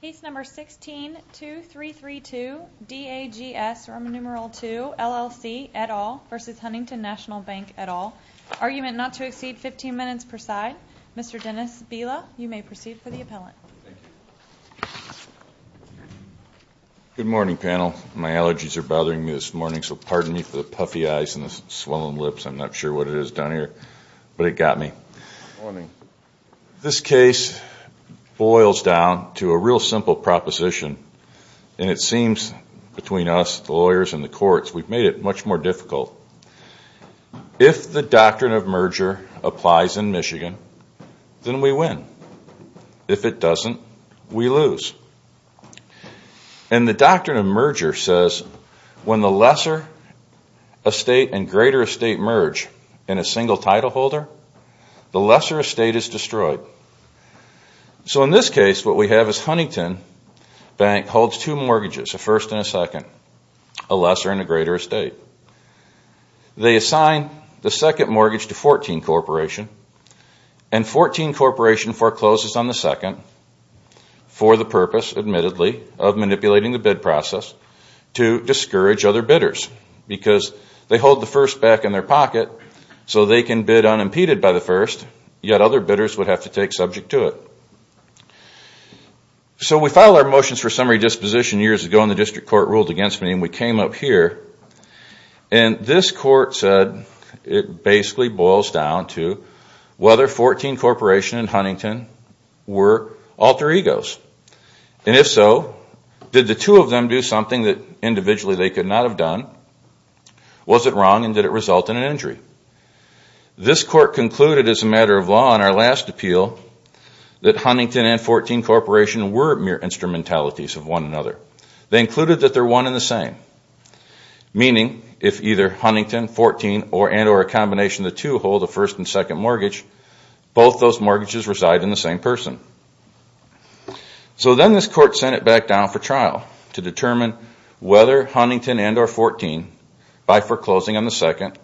Case number 16-2332 DAGS or numeral 2 LLC et al versus Huntington National Bank et al. Argument not to exceed 15 minutes per side. Mr. Dennis Bila, you may proceed for the appellant. Good morning panel. My allergies are bothering me this morning so pardon me for the puffy eyes and the swollen lips. I'm not sure what it is down here but it got me. This case boils down to a real simple proposition and it seems between us, the lawyers and the courts, we've made it much more difficult. If the doctrine of merger applies in Michigan, then we win. If it doesn't, we lose. And the doctrine of merger says when the lesser estate and greater estate merge in a single title holder, the lesser estate is destroyed. So in this case what we have is Huntington Bank holds two mortgages, a first and a second, a lesser and a greater estate. They assign the second mortgage to 14 Corporation and 14 Corporation forecloses on the second for the purpose, admittedly, of manipulating the bid process to discourage other bidders because they hold the first back in their pocket so they can bid unimpeded by the first yet other bidders would have to take subject to it. So we filed our motions for summary disposition years ago and the district court ruled against me and we came up here and this court said it basically boils down to whether 14 Corporation and Huntington were alter egos. And if so, did the two of them do something that individually they could not have done? Was it wrong and did it result in an injury? This court concluded as a matter of law in our last appeal that Huntington and 14 Corporation were mere instrumentalities of one another. They included that they're one in the same, meaning if either Huntington, 14, and or a combination of the two hold a first and second mortgage, both those mortgages reside in the same person. So then this court sent it back down for to determine whether Huntington and or 14, by foreclosing on the second,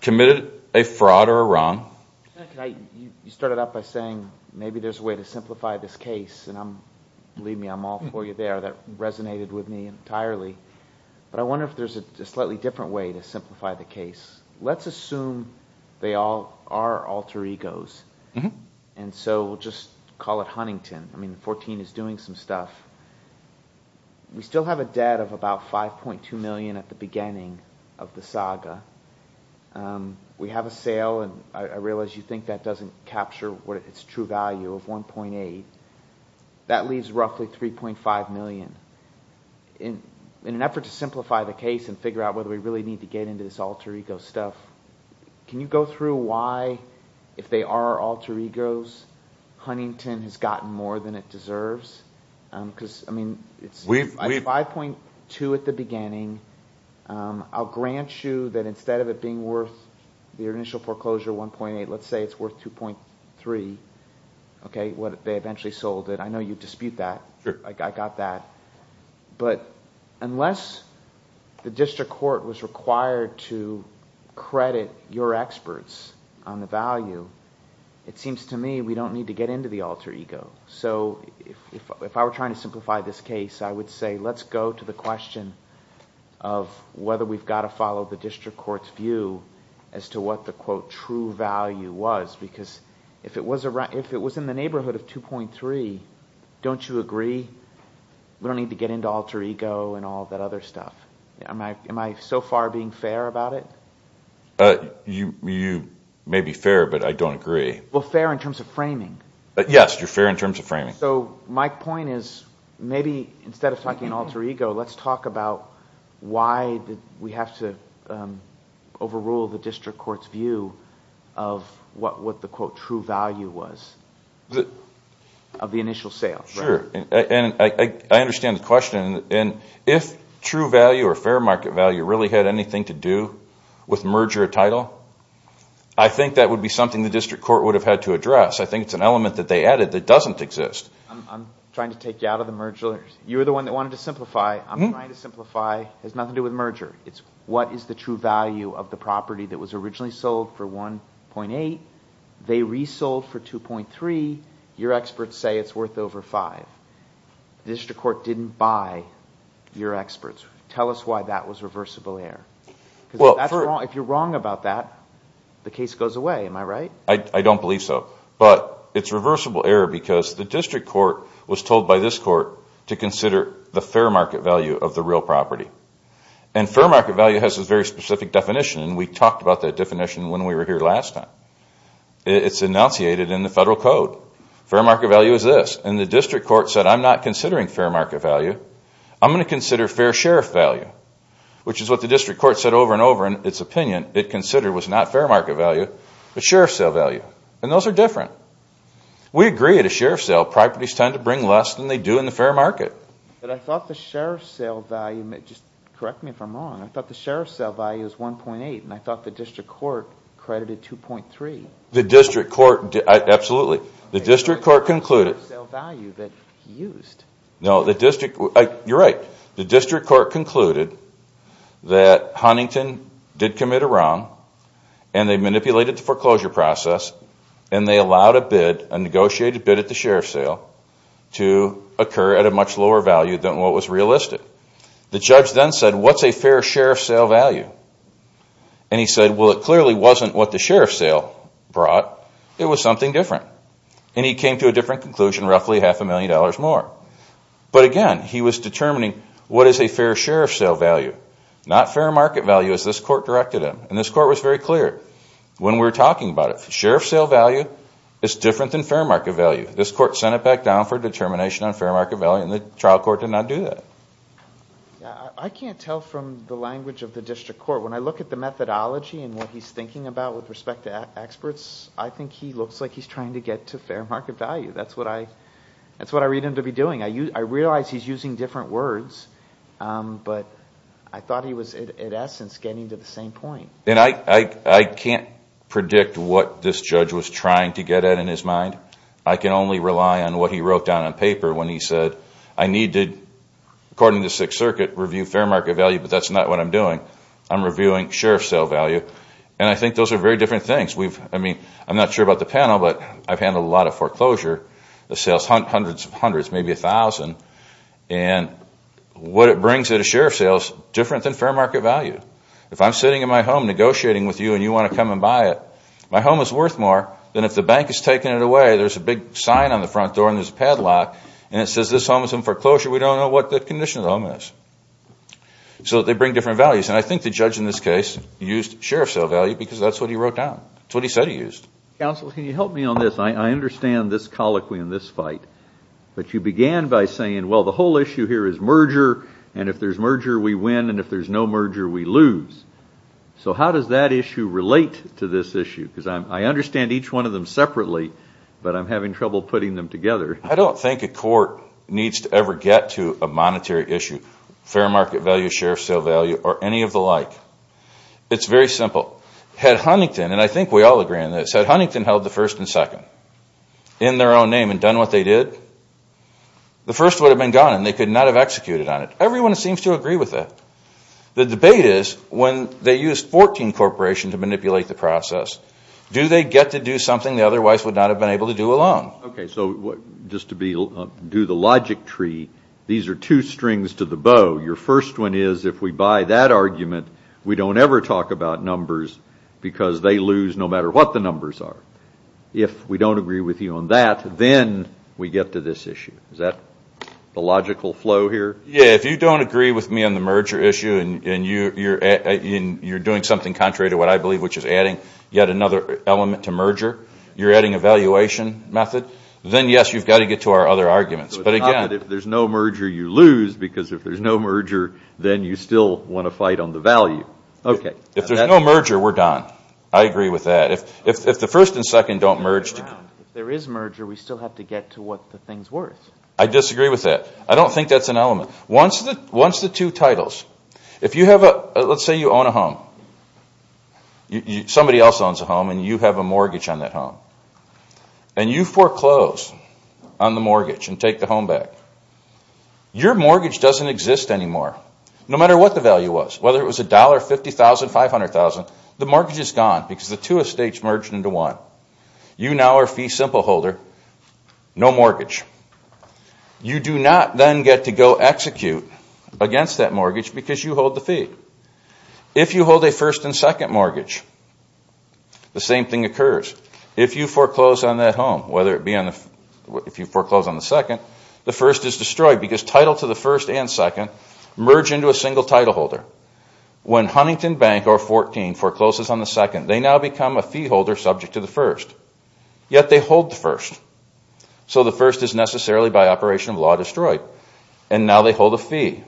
committed a fraud or a wrong. You started out by saying maybe there's a way to simplify this case and believe me, I'm all for you there. That resonated with me entirely. But I wonder if there's a slightly different way to simplify the case. Let's assume they all are alter egos and so we'll just call it Huntington. I mean 14 is doing some stuff. We still have a debt of about 5.2 million at the beginning of the saga. We have a sale and I realize you think that doesn't capture what its true value of 1.8. That leaves roughly 3.5 million. In an effort to simplify the case and figure out whether we really need to get into this alter ego stuff, can you go through why, if they are alter egos, Huntington has gotten more than it deserves? I mean it's 5.2 at the beginning. I'll grant you that instead of it being worth your initial foreclosure, 1.8, let's say it's worth 2.3, okay, what they eventually sold it. I know you dispute that. I got that. But unless the district court was required to credit your experts on the value, it seems to me we don't need to get into the alter ego. So if I were trying to simplify this case, I would say let's go to the question of whether we've got to follow the district court's view as to what the quote true value was. Because if it was in the neighborhood of 2.3, don't you agree we don't need to get into alter ego and all that other stuff? Am I so far being fair about it? You may be fair, but I don't agree. Well, fair in terms of framing. Yes, you're fair in terms of framing. So my point is maybe instead of talking alter ego, let's talk about why we have to overrule the district court's view of what the quote true value was of the initial sale. Sure. I understand the question. If true value or fair market value really had anything to do with merger title, I think that would be something the district court would have had to address. I think it's an element that they added that doesn't exist. I'm trying to take you out of the merger. You're the one that wanted to simplify. I'm trying to simplify. It has nothing to do with merger. It's what is the true value of the property that was originally sold for 1.8. They resold for 2.3. Your experts say it's worth over 5. The district court didn't buy your experts. Tell us why that was reversible error. If you're wrong about that, the case goes away. Am I right? I don't believe so, but it's reversible error because the district court was told by this court to consider the fair market value of the real time. It's enunciated in the federal code. Fair market value is this. The district court said I'm not considering fair market value. I'm going to consider fair sheriff value, which is what the district court said over and over in its opinion. It considered was not fair market value, but sheriff sale value. Those are different. We agree at a sheriff sale, properties tend to bring less than they do in the fair market. I thought the sheriff sale value, correct me if I'm wrong, I thought the sheriff sale value was 1.8 and I thought the district court credited 2.3. The district court, absolutely. The district court concluded that Huntington did commit a wrong and they manipulated the foreclosure process and they allowed a negotiated bid at the sheriff sale to occur at a much lower value than what was what the sheriff sale brought, it was something different. He came to a different conclusion, roughly half a million dollars more. But again, he was determining what is a fair sheriff sale value, not fair market value as this court directed him. This court was very clear when we were talking about it. Sheriff sale value is different than fair market value. This court sent it back down for determination on fair market value and the trial court did not do that. I can't tell from the language of the district court, when I look at the testimony and what he's thinking about with respect to experts, I think he looks like he's trying to get to fair market value. That's what I read him to be doing. I realize he's using different words, but I thought he was, in essence, getting to the same point. I can't predict what this judge was trying to get at in his mind. I can only rely on what he wrote down on paper when he said, I need to, according to Sixth Circuit, review fair market value, but that's not what I'm doing. I'm reviewing sheriff sale value. I think those are very different things. I'm not sure about the panel, but I've handled a lot of foreclosure, the sales, hundreds of hundreds, maybe a thousand. What it brings at a sheriff sale is different than fair market value. If I'm sitting in my home negotiating with you and you want to come and buy it, my home is worth more than if the bank is taking it away, there's a big sign on the front door and there's a padlock, and it says this home is in foreclosure. We don't know what the condition of the home is. So they bring different values, and I think the judge in this case used sheriff sale value because that's what he wrote down. That's what he said he used. Counsel, can you help me on this? I understand this colloquy and this fight, but you began by saying, well, the whole issue here is merger, and if there's merger, we win, and if there's no merger, we lose. So how does that issue relate to this issue? Because I understand each one of them separately, but I'm having trouble putting them together. I don't think a court needs to ever get to a monetary issue, fair market value, sheriff sale value, or any of the like. It's very simple. Had Huntington, and I think we all agree on this, had Huntington held the first and second in their own name and done what they did, the first would have been gone and they could not have executed on it. Everyone seems to agree with that. The debate is when they use 14 corporations to manipulate the process, do they get to do something they otherwise would not have been able to do alone? Okay, so just to do the logic tree, these are two strings to the bow. Your first one is if we buy that argument, we don't ever talk about numbers because they lose no matter what the numbers are. If we don't agree with you on that, then we get to this issue. Is that the logical flow here? Yeah, if you don't agree with me on the merger issue and you're doing something contrary to what I believe, which is adding yet another element to merger, you're adding a valuation method, then yes, you've got to get to our other arguments. So it's not that if there's no merger, you lose because if there's no merger, then you still want to fight on the value, okay. If there's no merger, we're done. I agree with that. If the first and second don't merge together. If there is merger, we still have to get to what the thing's worth. I disagree with that. I don't think that's an element. Once the two titles, let's say you own a home. Somebody else owns a home and you have a mortgage on that home and you foreclose on the mortgage and take the home back. Your mortgage doesn't exist anymore no matter what the value was, whether it was $1, $50,000, $500,000, the mortgage is gone because the two estates merged into one. You now are fee simple holder, no mortgage. You do not then get to go execute against that mortgage because you hold the fee. If you hold a first and second mortgage, the same thing occurs. If you foreclose on that home, whether it be on the, if you foreclose on the second, the first is destroyed because title to the first and second merge into a single title holder. When Huntington Bank or 14 forecloses on the second, they now become a fee holder subject to the first. Yet they hold the first. So the first is necessarily by operation of law destroyed and now they hold a fee,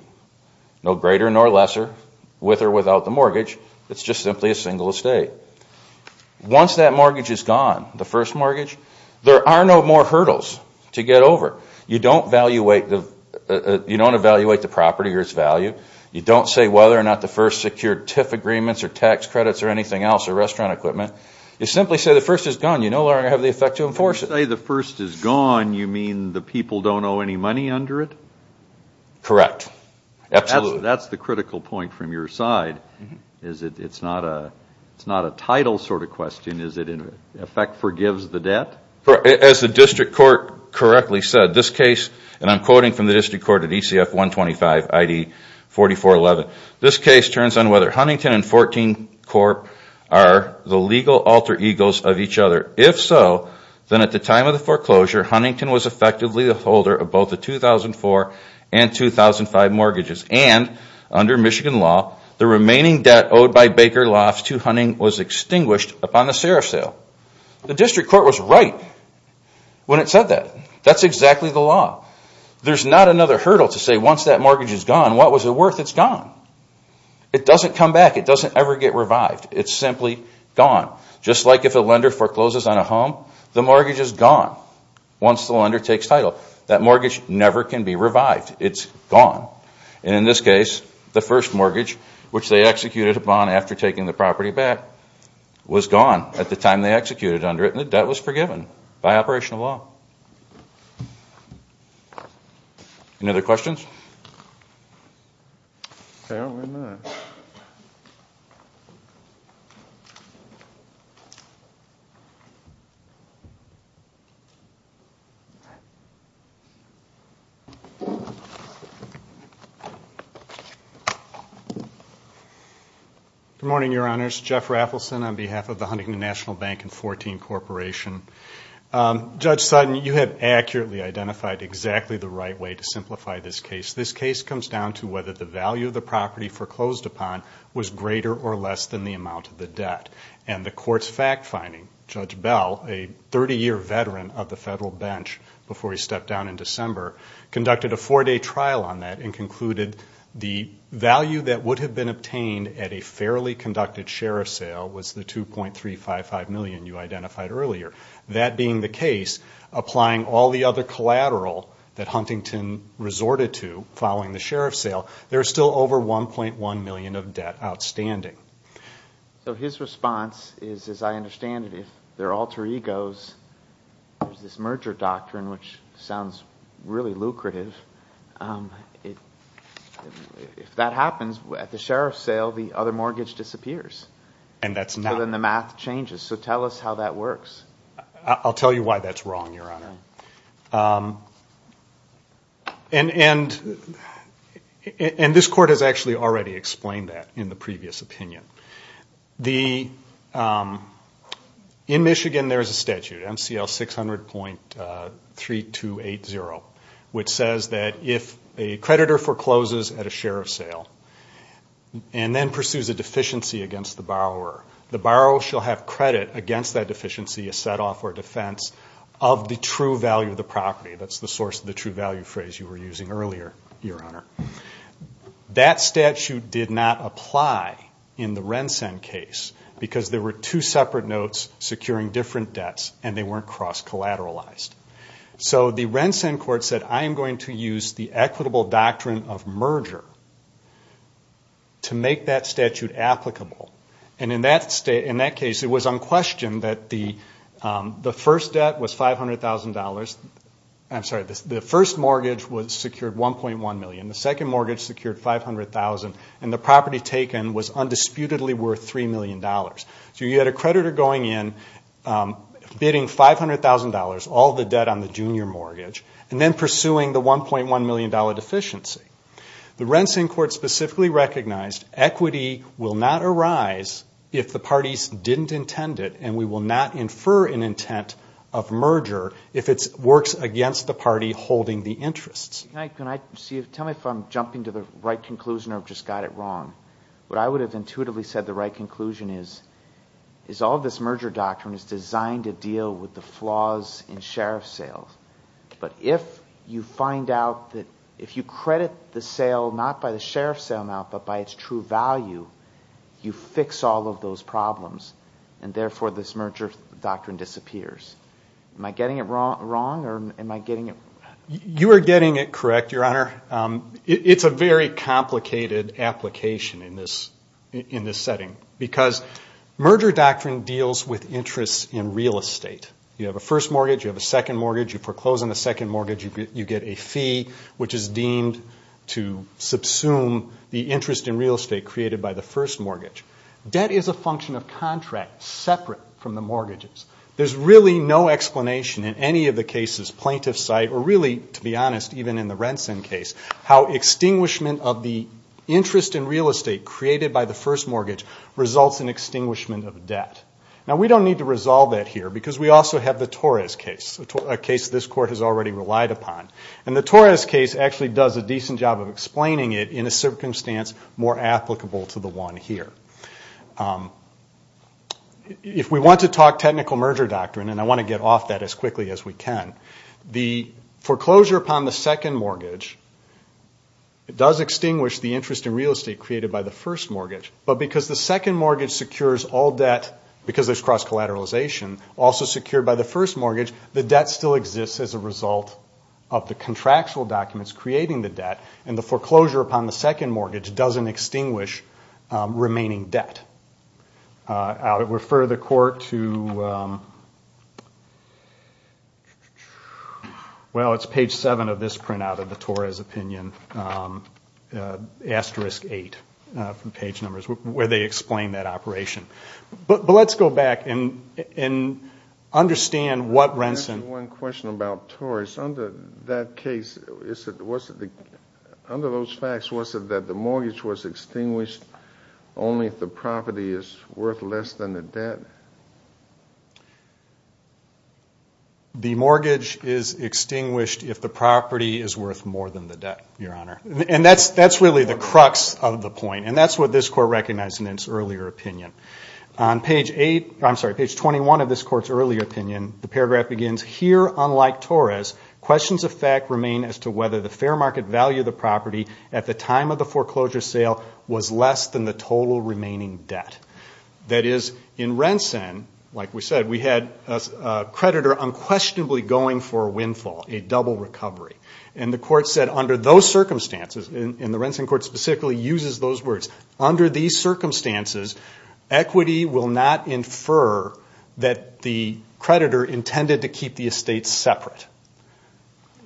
no greater nor lesser with or without the mortgage. It's just simply a single estate. Once that mortgage is gone, the first mortgage, there are no more hurdles to get over. You don't evaluate the property or its value. You don't say whether or not the first secured TIF agreements or tax credits or anything else or restaurant services. The first is gone. You no longer have the effect to enforce it. The first is gone, you mean the people don't owe any money under it? Correct. Absolutely. That's the critical point from your side. It's not a title sort of question. Is it in effect forgives the debt? As the district court correctly said, this case, and I'm quoting from the district court at ECF 125 ID 4411, this case turns on whether Huntington and 14 Corp are the legal alter of each other. If so, then at the time of the foreclosure, Huntington was effectively the holder of both the 2004 and 2005 mortgages. And under Michigan law, the remaining debt owed by Baker Lofts to Huntington was extinguished upon the serif sale. The district court was right when it said that. That's exactly the law. There's not another hurdle to say once that mortgage is gone, what was it worth? It's gone. It doesn't come back. It doesn't ever get revived. It's simply gone. Just like if a lender forecloses on a home, the mortgage is gone once the lender takes title. That mortgage never can be revived. It's gone. In this case, the first mortgage which they executed upon after taking the property back was gone at the time they executed under it and the debt was forgiven by operational law. Any other questions? Good morning, Your Honors. Jeff Raffleson on behalf of the Huntington National Bank and 14 Corporation. Judge Sutton, you have accurately identified exactly the right way to simplify this case. This case comes down to whether the value of the property foreclosed upon was greater or less than the amount of the debt. And the court's fact finding, Judge Bell, a 30-year veteran of the federal bench before he stepped down in December, conducted a four-day trial on that and concluded the value that would have been obtained at a fairly conducted serif sale was the $2.355 million you identified earlier. That being the case, applying all the other collateral that Huntington resorted to following the sheriff's sale, there is still over $1.1 million of debt outstanding. So his response is, as I understand it, if there are alter egos, there's this merger doctrine which sounds really lucrative. If that happens, at the sheriff's sale, the other mortgage disappears. And that's not. So then the math changes. So tell us how that works. I'll tell you why that's wrong, Your Honor. And this court has actually already explained that in the previous opinion. In Michigan, there's a statute, MCL 600.3280, which says that if a creditor forecloses at a sheriff's sale and then pursues a deficiency against the borrower, the borrower shall have credit against that deficiency, a set-off or defense, of the true value of the property. That's the source of the true value phrase you were using earlier, Your Honor. That statute did not apply in the Rensen case because there were two separate notes securing different debts and they weren't cross-collateralized. So the Rensen court said, I am going to use the equitable doctrine of merger to make that statute applicable. And in that case, it was unquestioned that the first debt was $500,000. I'm sorry, the first mortgage was secured $1.1 million, the second mortgage secured $500,000, and the property taken was undisputedly worth $3 million. So you had a creditor going in, bidding $500,000, all the debt on the junior mortgage, and then pursuing the $1.1 million deficiency. The Rensen court specifically recognized equity will not arise if the parties didn't intend it and we will not infer an intent of merger if it works against the party holding the interests. Tell me if I'm jumping to the right conclusion or just got it wrong. What I would have intuitively said the right conclusion is, is all this merger doctrine is designed to flaws in sheriff sales. But if you find out that if you credit the sale not by the sheriff's sale amount, but by its true value, you fix all of those problems. And therefore, this merger doctrine disappears. Am I getting it wrong or am I getting it? You are getting it correct, Your Honor. It's a very complicated application in this setting because merger doctrine deals with interests in real estate. You have a first mortgage, you have a second mortgage, you foreclose on the second mortgage, you get a fee which is deemed to subsume the interest in real estate created by the first mortgage. Debt is a function of contract separate from the mortgages. There's really no explanation in any of the cases plaintiff cite or really, to be honest, even in the Rensen case, how results in extinguishment of debt. Now we don't need to resolve that here because we also have the Torres case, a case this Court has already relied upon. And the Torres case actually does a decent job of explaining it in a circumstance more applicable to the one here. If we want to talk technical merger doctrine, and I want to get off that as quickly as we can, the foreclosure upon the second mortgage does extinguish the interest in real estate created by the first mortgage. But because the second mortgage secures all debt, because there's cross-collateralization, also secured by the first mortgage, the debt still exists as a result of the contractual documents creating the debt, and the foreclosure upon the second mortgage doesn't extinguish remaining debt. I'll refer the Court to, well, it's page 7 of this printout of the Torres opinion, asterisk 8 from page numbers, where they explain that operation. But let's go back and understand what Rensen... One question about Torres. Under that case, under those facts, was it that the mortgage was extinguished only if the property is worth less than the debt? The mortgage is extinguished if the property is worth more than the debt, Your Honor. And that's really the crux of the point, and that's what this Court recognized in its earlier opinion. On page 8, I'm sorry, page 21 of this Court's earlier opinion, the paragraph begins, here, unlike Torres, questions of fact remain as to whether the fair market value of the property at the time of the foreclosure sale was less than the total remaining debt. That is, in Rensen, like we said, we had a creditor unquestionably going for a windfall, a double recovery. And the Court said under those circumstances, and the Rensen Court specifically uses those words, under these circumstances, equity will not infer that the creditor intended to keep the estate separate.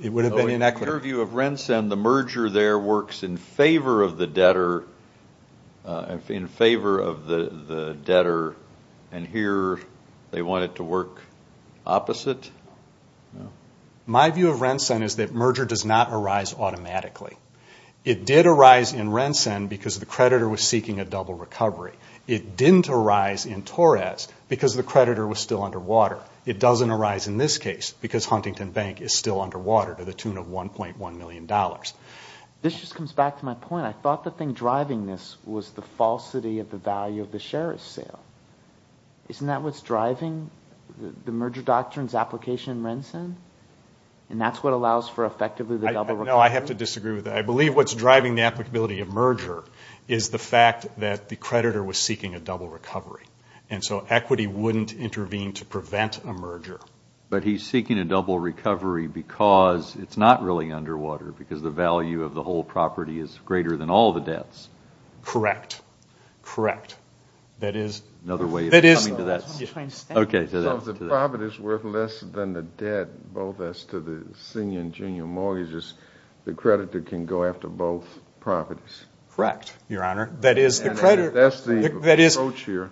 It would have been inequitable. In your view of Rensen, the merger there works in favor of the debtor, and here they want it to work opposite? My view of Rensen is that merger does not arise automatically. It did arise in Rensen because the creditor was seeking a double recovery. It didn't arise in Torres because the creditor was still underwater. It doesn't arise in this case because Huntington Bank is still underwater to the tune of $1.1 million. This just comes back to my point. I thought the thing driving this was the falsity of the value of the sheriff's sale. Isn't that what's driving the merger doctrine's application in Rensen? And that's what allows for effectively the double recovery? No, I have to disagree with that. I believe what's driving the applicability of merger is the fact that the creditor was seeking a double recovery. And so equity wouldn't intervene to prevent a merger. But he's seeking a double recovery because it's not really underwater, because the value of the whole property is greater than all the debts. Correct. Correct. That is another way of coming to that. So if the property is worth less than the debt, both as to the senior and junior mortgages, the creditor can go after both properties. Correct, Your Honor. That is the creditor. And that's the approach here.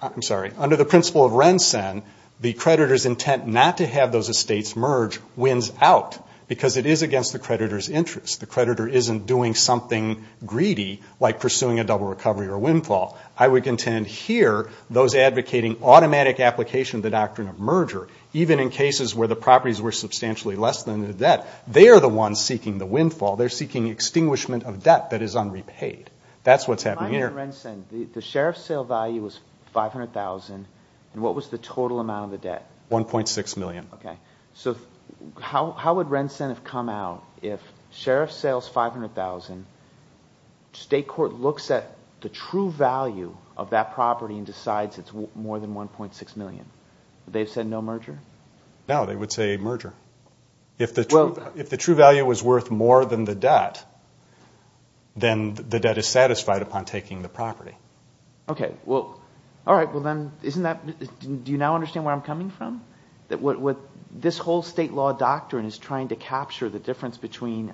I'm sorry. Under the principle of Rensen, the creditor's intent not to have those estates merge wins out because it is against the creditor's interest. The creditor isn't doing something greedy like pursuing a double recovery or windfall. I would contend here, those advocating automatic application of the doctrine of merger, even in cases where the properties were substantially less than the debt, they are the ones seeking the windfall. They're seeking extinguishment of debt that is unrepaid. That's what's happening here. Under Rensen, the sheriff's sale value was $500,000. What was the total amount of the debt? $1.6 million. Okay. So how would Rensen have come out if sheriff sales $500,000, state court looks at the true value of that property and decides it's more than $1.6 million? Would they have said no merger? No, they would say merger. If the true value was worth more than the debt, then the debt is satisfied upon taking the property. Okay. Well, all right. Do you now understand where I'm coming from? This whole state law doctrine is trying to capture the difference between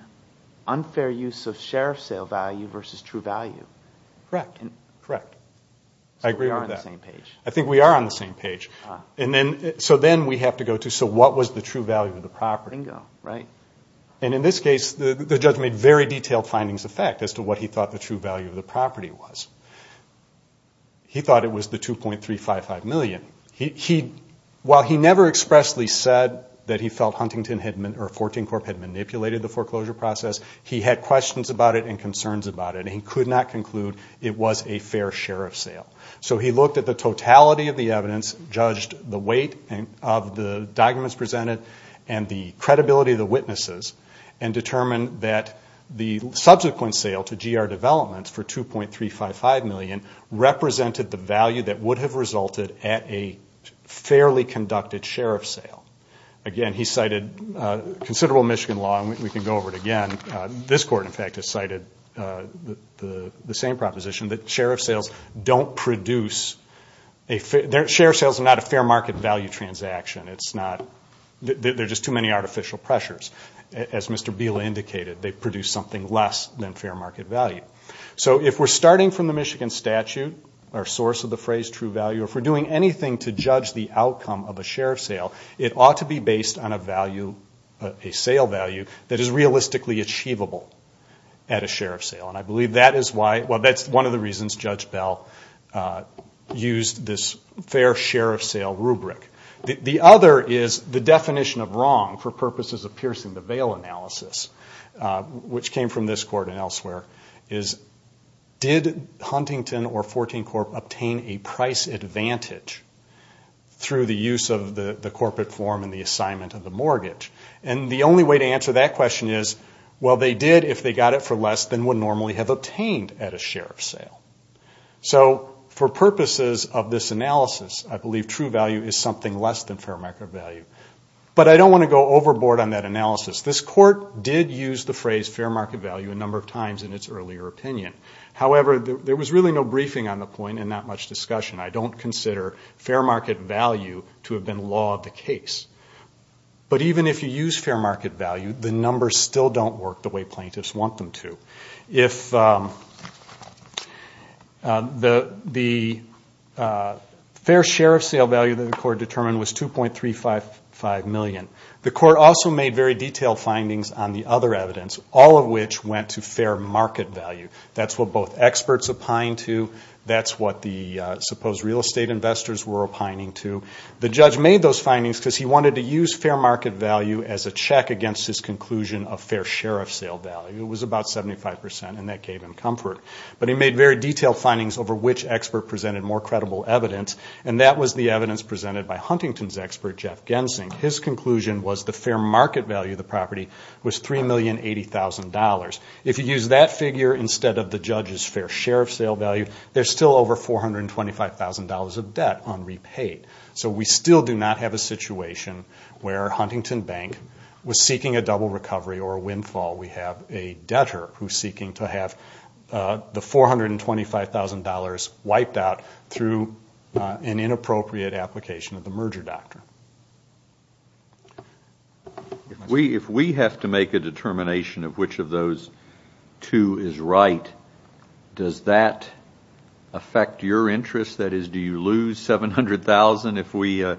unfair use of sheriff sale value versus true value. Correct. Correct. I agree with that. So we are on the same page. I think we are on the same page. So then we have to go to, so what was the true value of the property? Bingo, right? And in this case, the judge made very detailed findings of fact as to what he thought the true value of the property was. He thought it was the $2.355 million. While he never expressly said that he felt Huntington or 14 Corp. had manipulated the foreclosure process, he had questions about it and concerns about it. He could not conclude it was a fair sheriff sale. So he looked at the totality of the evidence, judged the weight of the documents presented and the credibility of the witnesses, and determined that the subsequent sale to GR Developments for $2.355 million represented the value that would have resulted at a fairly conducted sheriff sale. Again, he cited considerable Michigan law, and we can go over it again. This court, in fact, has cited the same proposition that sheriff sales don't produce, sheriff sales don't produce a fair market value transaction. There are just too many artificial pressures. As Mr. Biela indicated, they produce something less than fair market value. So if we're starting from the Michigan statute, our source of the phrase true value, if we're doing anything to judge the outcome of a sheriff sale, it ought to be based on a sale value that is realistically achievable at a sheriff sale. And I believe that is why, well that's one of the reasons Judge Bell used this fair sheriff sale rubric. The other is the definition of wrong, for purposes of piercing the veil analysis, which came from this court and elsewhere, is did Huntington or 14 Corp. obtain a price advantage through the use of the corporate form and the assignment of the mortgage? And the only way to answer that question is, well they did if they got it for less than would normally have obtained at a sheriff sale. So for purposes of this analysis, I believe true value is something less than fair market value. But I don't want to go overboard on that analysis. This court did use the phrase fair market value a number of times in its earlier opinion. However, there was really no briefing on the point and not much discussion. I don't consider fair market value to have been law of the case. But even if you use fair market value, the numbers still don't work the way plaintiffs want them to. The fair sheriff sale value that the court determined was $2.355 million. The court also made very detailed findings on the other evidence, all of which went to fair market value. That's what both experts opined to, that's what the supposed real estate investors were opining to. The judge made those findings because he wanted to use fair market value as a check against his conclusion of fair sheriff sale value. It was about 75% and that gave him comfort. But he made very detailed findings over which expert presented more credible evidence and that was the evidence presented by Huntington's expert Jeff Gensing. His conclusion was the fair market value of the property was $3,080,000. If you use that figure instead of the judge's fair sheriff sale value, there's still over $425,000 of debt unrepaid. So we still do not have a situation where Huntington Bank was seeking a double recovery or a windfall. We have a debtor who is seeking to have the $425,000 wiped out through an inappropriate application of the merger doctrine. If we have to make a determination of which of those two is right, does that affect your interest? That is, do you lose $700,000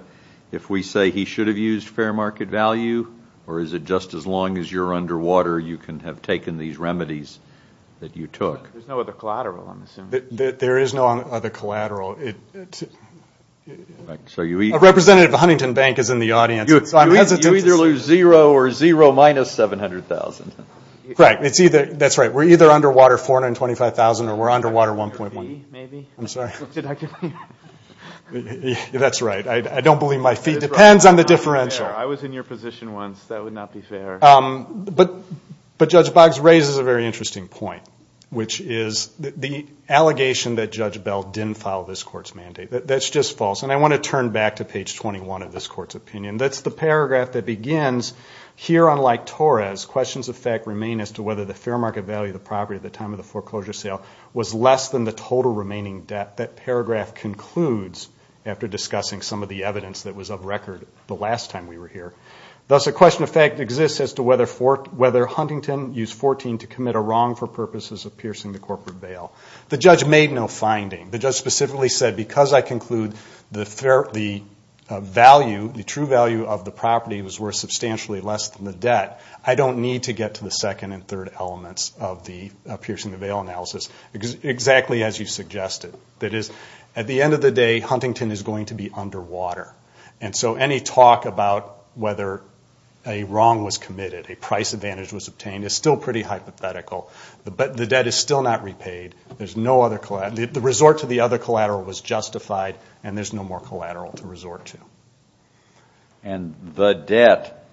if we say he should have used fair market value or is it just as long as you're underwater, you can have taken these remedies that you took? There's no other collateral, I'm assuming. There is no other collateral. A representative of Huntington Bank is in the audience. You either lose $0,000 or $0,000 minus $700,000. Right, that's right. We're either underwater $425,000 or we're underwater $1.1. Maybe? I'm sorry? That's right. I don't believe my feet. It depends on the differential. I was in your position once, that would not be fair. But Judge Boggs raises a very interesting point, which is the allegation that Judge Bell didn't follow this Court's mandate. That's just false. And I want to turn back to page 21 of this Court's opinion. That's the paragraph that begins, here unlike Torres, questions of fact remain as to whether the fair market value of the property at the time of the foreclosure sale was less than the total remaining debt. That paragraph concludes after discussing some of the evidence that was of record the last time we were here. Thus, a question of fact exists as to whether Huntington used 14 to commit a wrong for purposes of piercing the corporate bail. The judge made no finding. The judge specifically said, because I conclude the value, the true value of the property was worth substantially less than the debt, I don't need to get to the second and third elements of the piercing the bail analysis, exactly as you suggested. That is, at the end of the day, Huntington is going to be underwater. And so any talk about whether a wrong was committed, a price advantage was obtained, is still pretty hypothetical. But the debt is still not repaid. The resort to the other collateral was justified, and there's no more collateral to resort to. And the debt,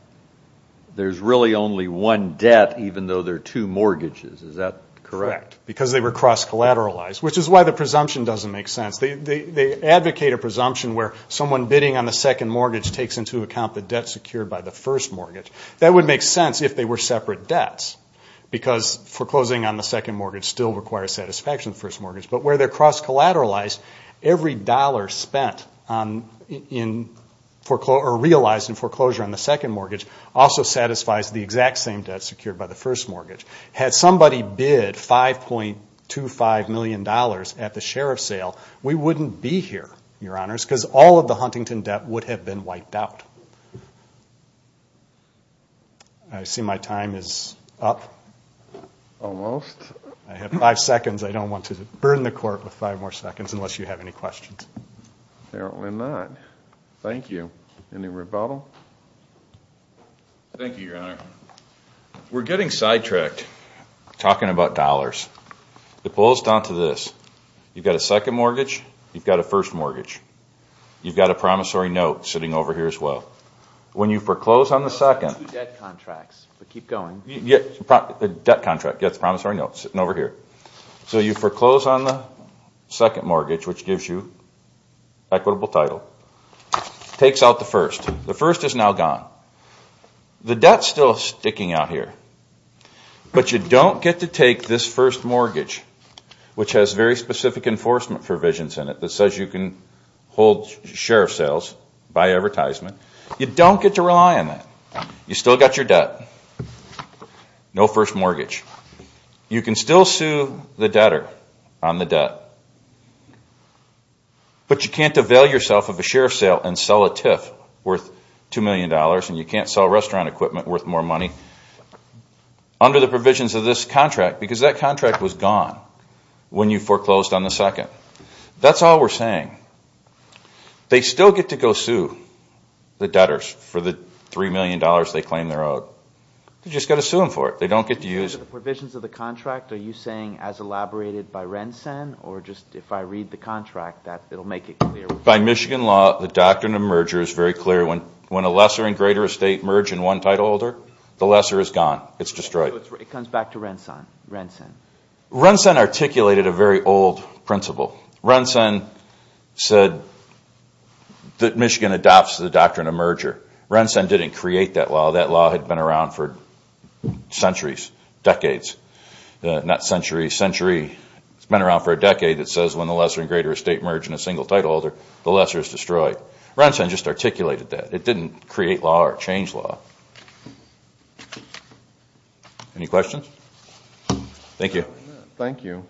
there's really only one debt, even though there are two mortgages. Is that correct? Because they were cross-collateralized, which is why the presumption doesn't make sense. They advocate a presumption where someone bidding on the second mortgage takes into account the debt secured by the first mortgage. That would make sense if they were separate debts, because foreclosing on the second mortgage still requires satisfaction of the first mortgage. But where they're cross-collateralized, every dollar spent or realized in foreclosure on the second mortgage also satisfies the exact same debt secured by the first mortgage. Had somebody bid $5.25 million at the sheriff's sale, we wouldn't be here, Your Honors, because all of the Huntington debt would have been wiped out. I see my time is up. Almost. I have five seconds. I don't want to burn the Court with five more seconds unless you have any questions. Apparently not. Thank you. Any rebuttal? Thank you, Your Honor. We're getting sidetracked talking about dollars. It boils down to this. You've got a second mortgage. You've got a first mortgage. You've got a promissory note sitting over here as well. When you foreclose on the second, the debt contract gets a promissory note sitting over here. So you foreclose on the second mortgage, which gives you equitable title, takes out the first. The first is now gone. The debt is still sticking out here. But you don't get to take this first mortgage, which has very specific enforcement provisions in it that says you can hold sheriff's sales, buy advertisement. You don't get to rely on that. You've still got your debt. No first mortgage. You can still sue the debtor on the first mortgage. You can't avail yourself of a sheriff's sale and sell a TIF worth two million dollars. You can't sell restaurant equipment worth more money under the provisions of this contract because that contract was gone when you foreclosed on the second. That's all we're saying. They still get to go sue the debtors for the $3 million they claim their oath. You've just got to sue them for it. They don't get to use it. The provisions of the contract, are you saying as elaborated by Rensen or just if I read the contract that it will make it clear? By Michigan law, the doctrine of merger is very clear. When a lesser and greater estate merge in one titleholder, the lesser is gone. It's destroyed. It comes back to Rensen. Rensen articulated a very old principle. Rensen said that Michigan adopts the doctrine of merger. Rensen didn't create that law. That law had been around for centuries, decades. It's been around for a decade. It says when a lesser and greater estate merge in a single titleholder, the lesser is destroyed. Rensen just articulated that. It didn't create law or change law. Any questions? Thank you.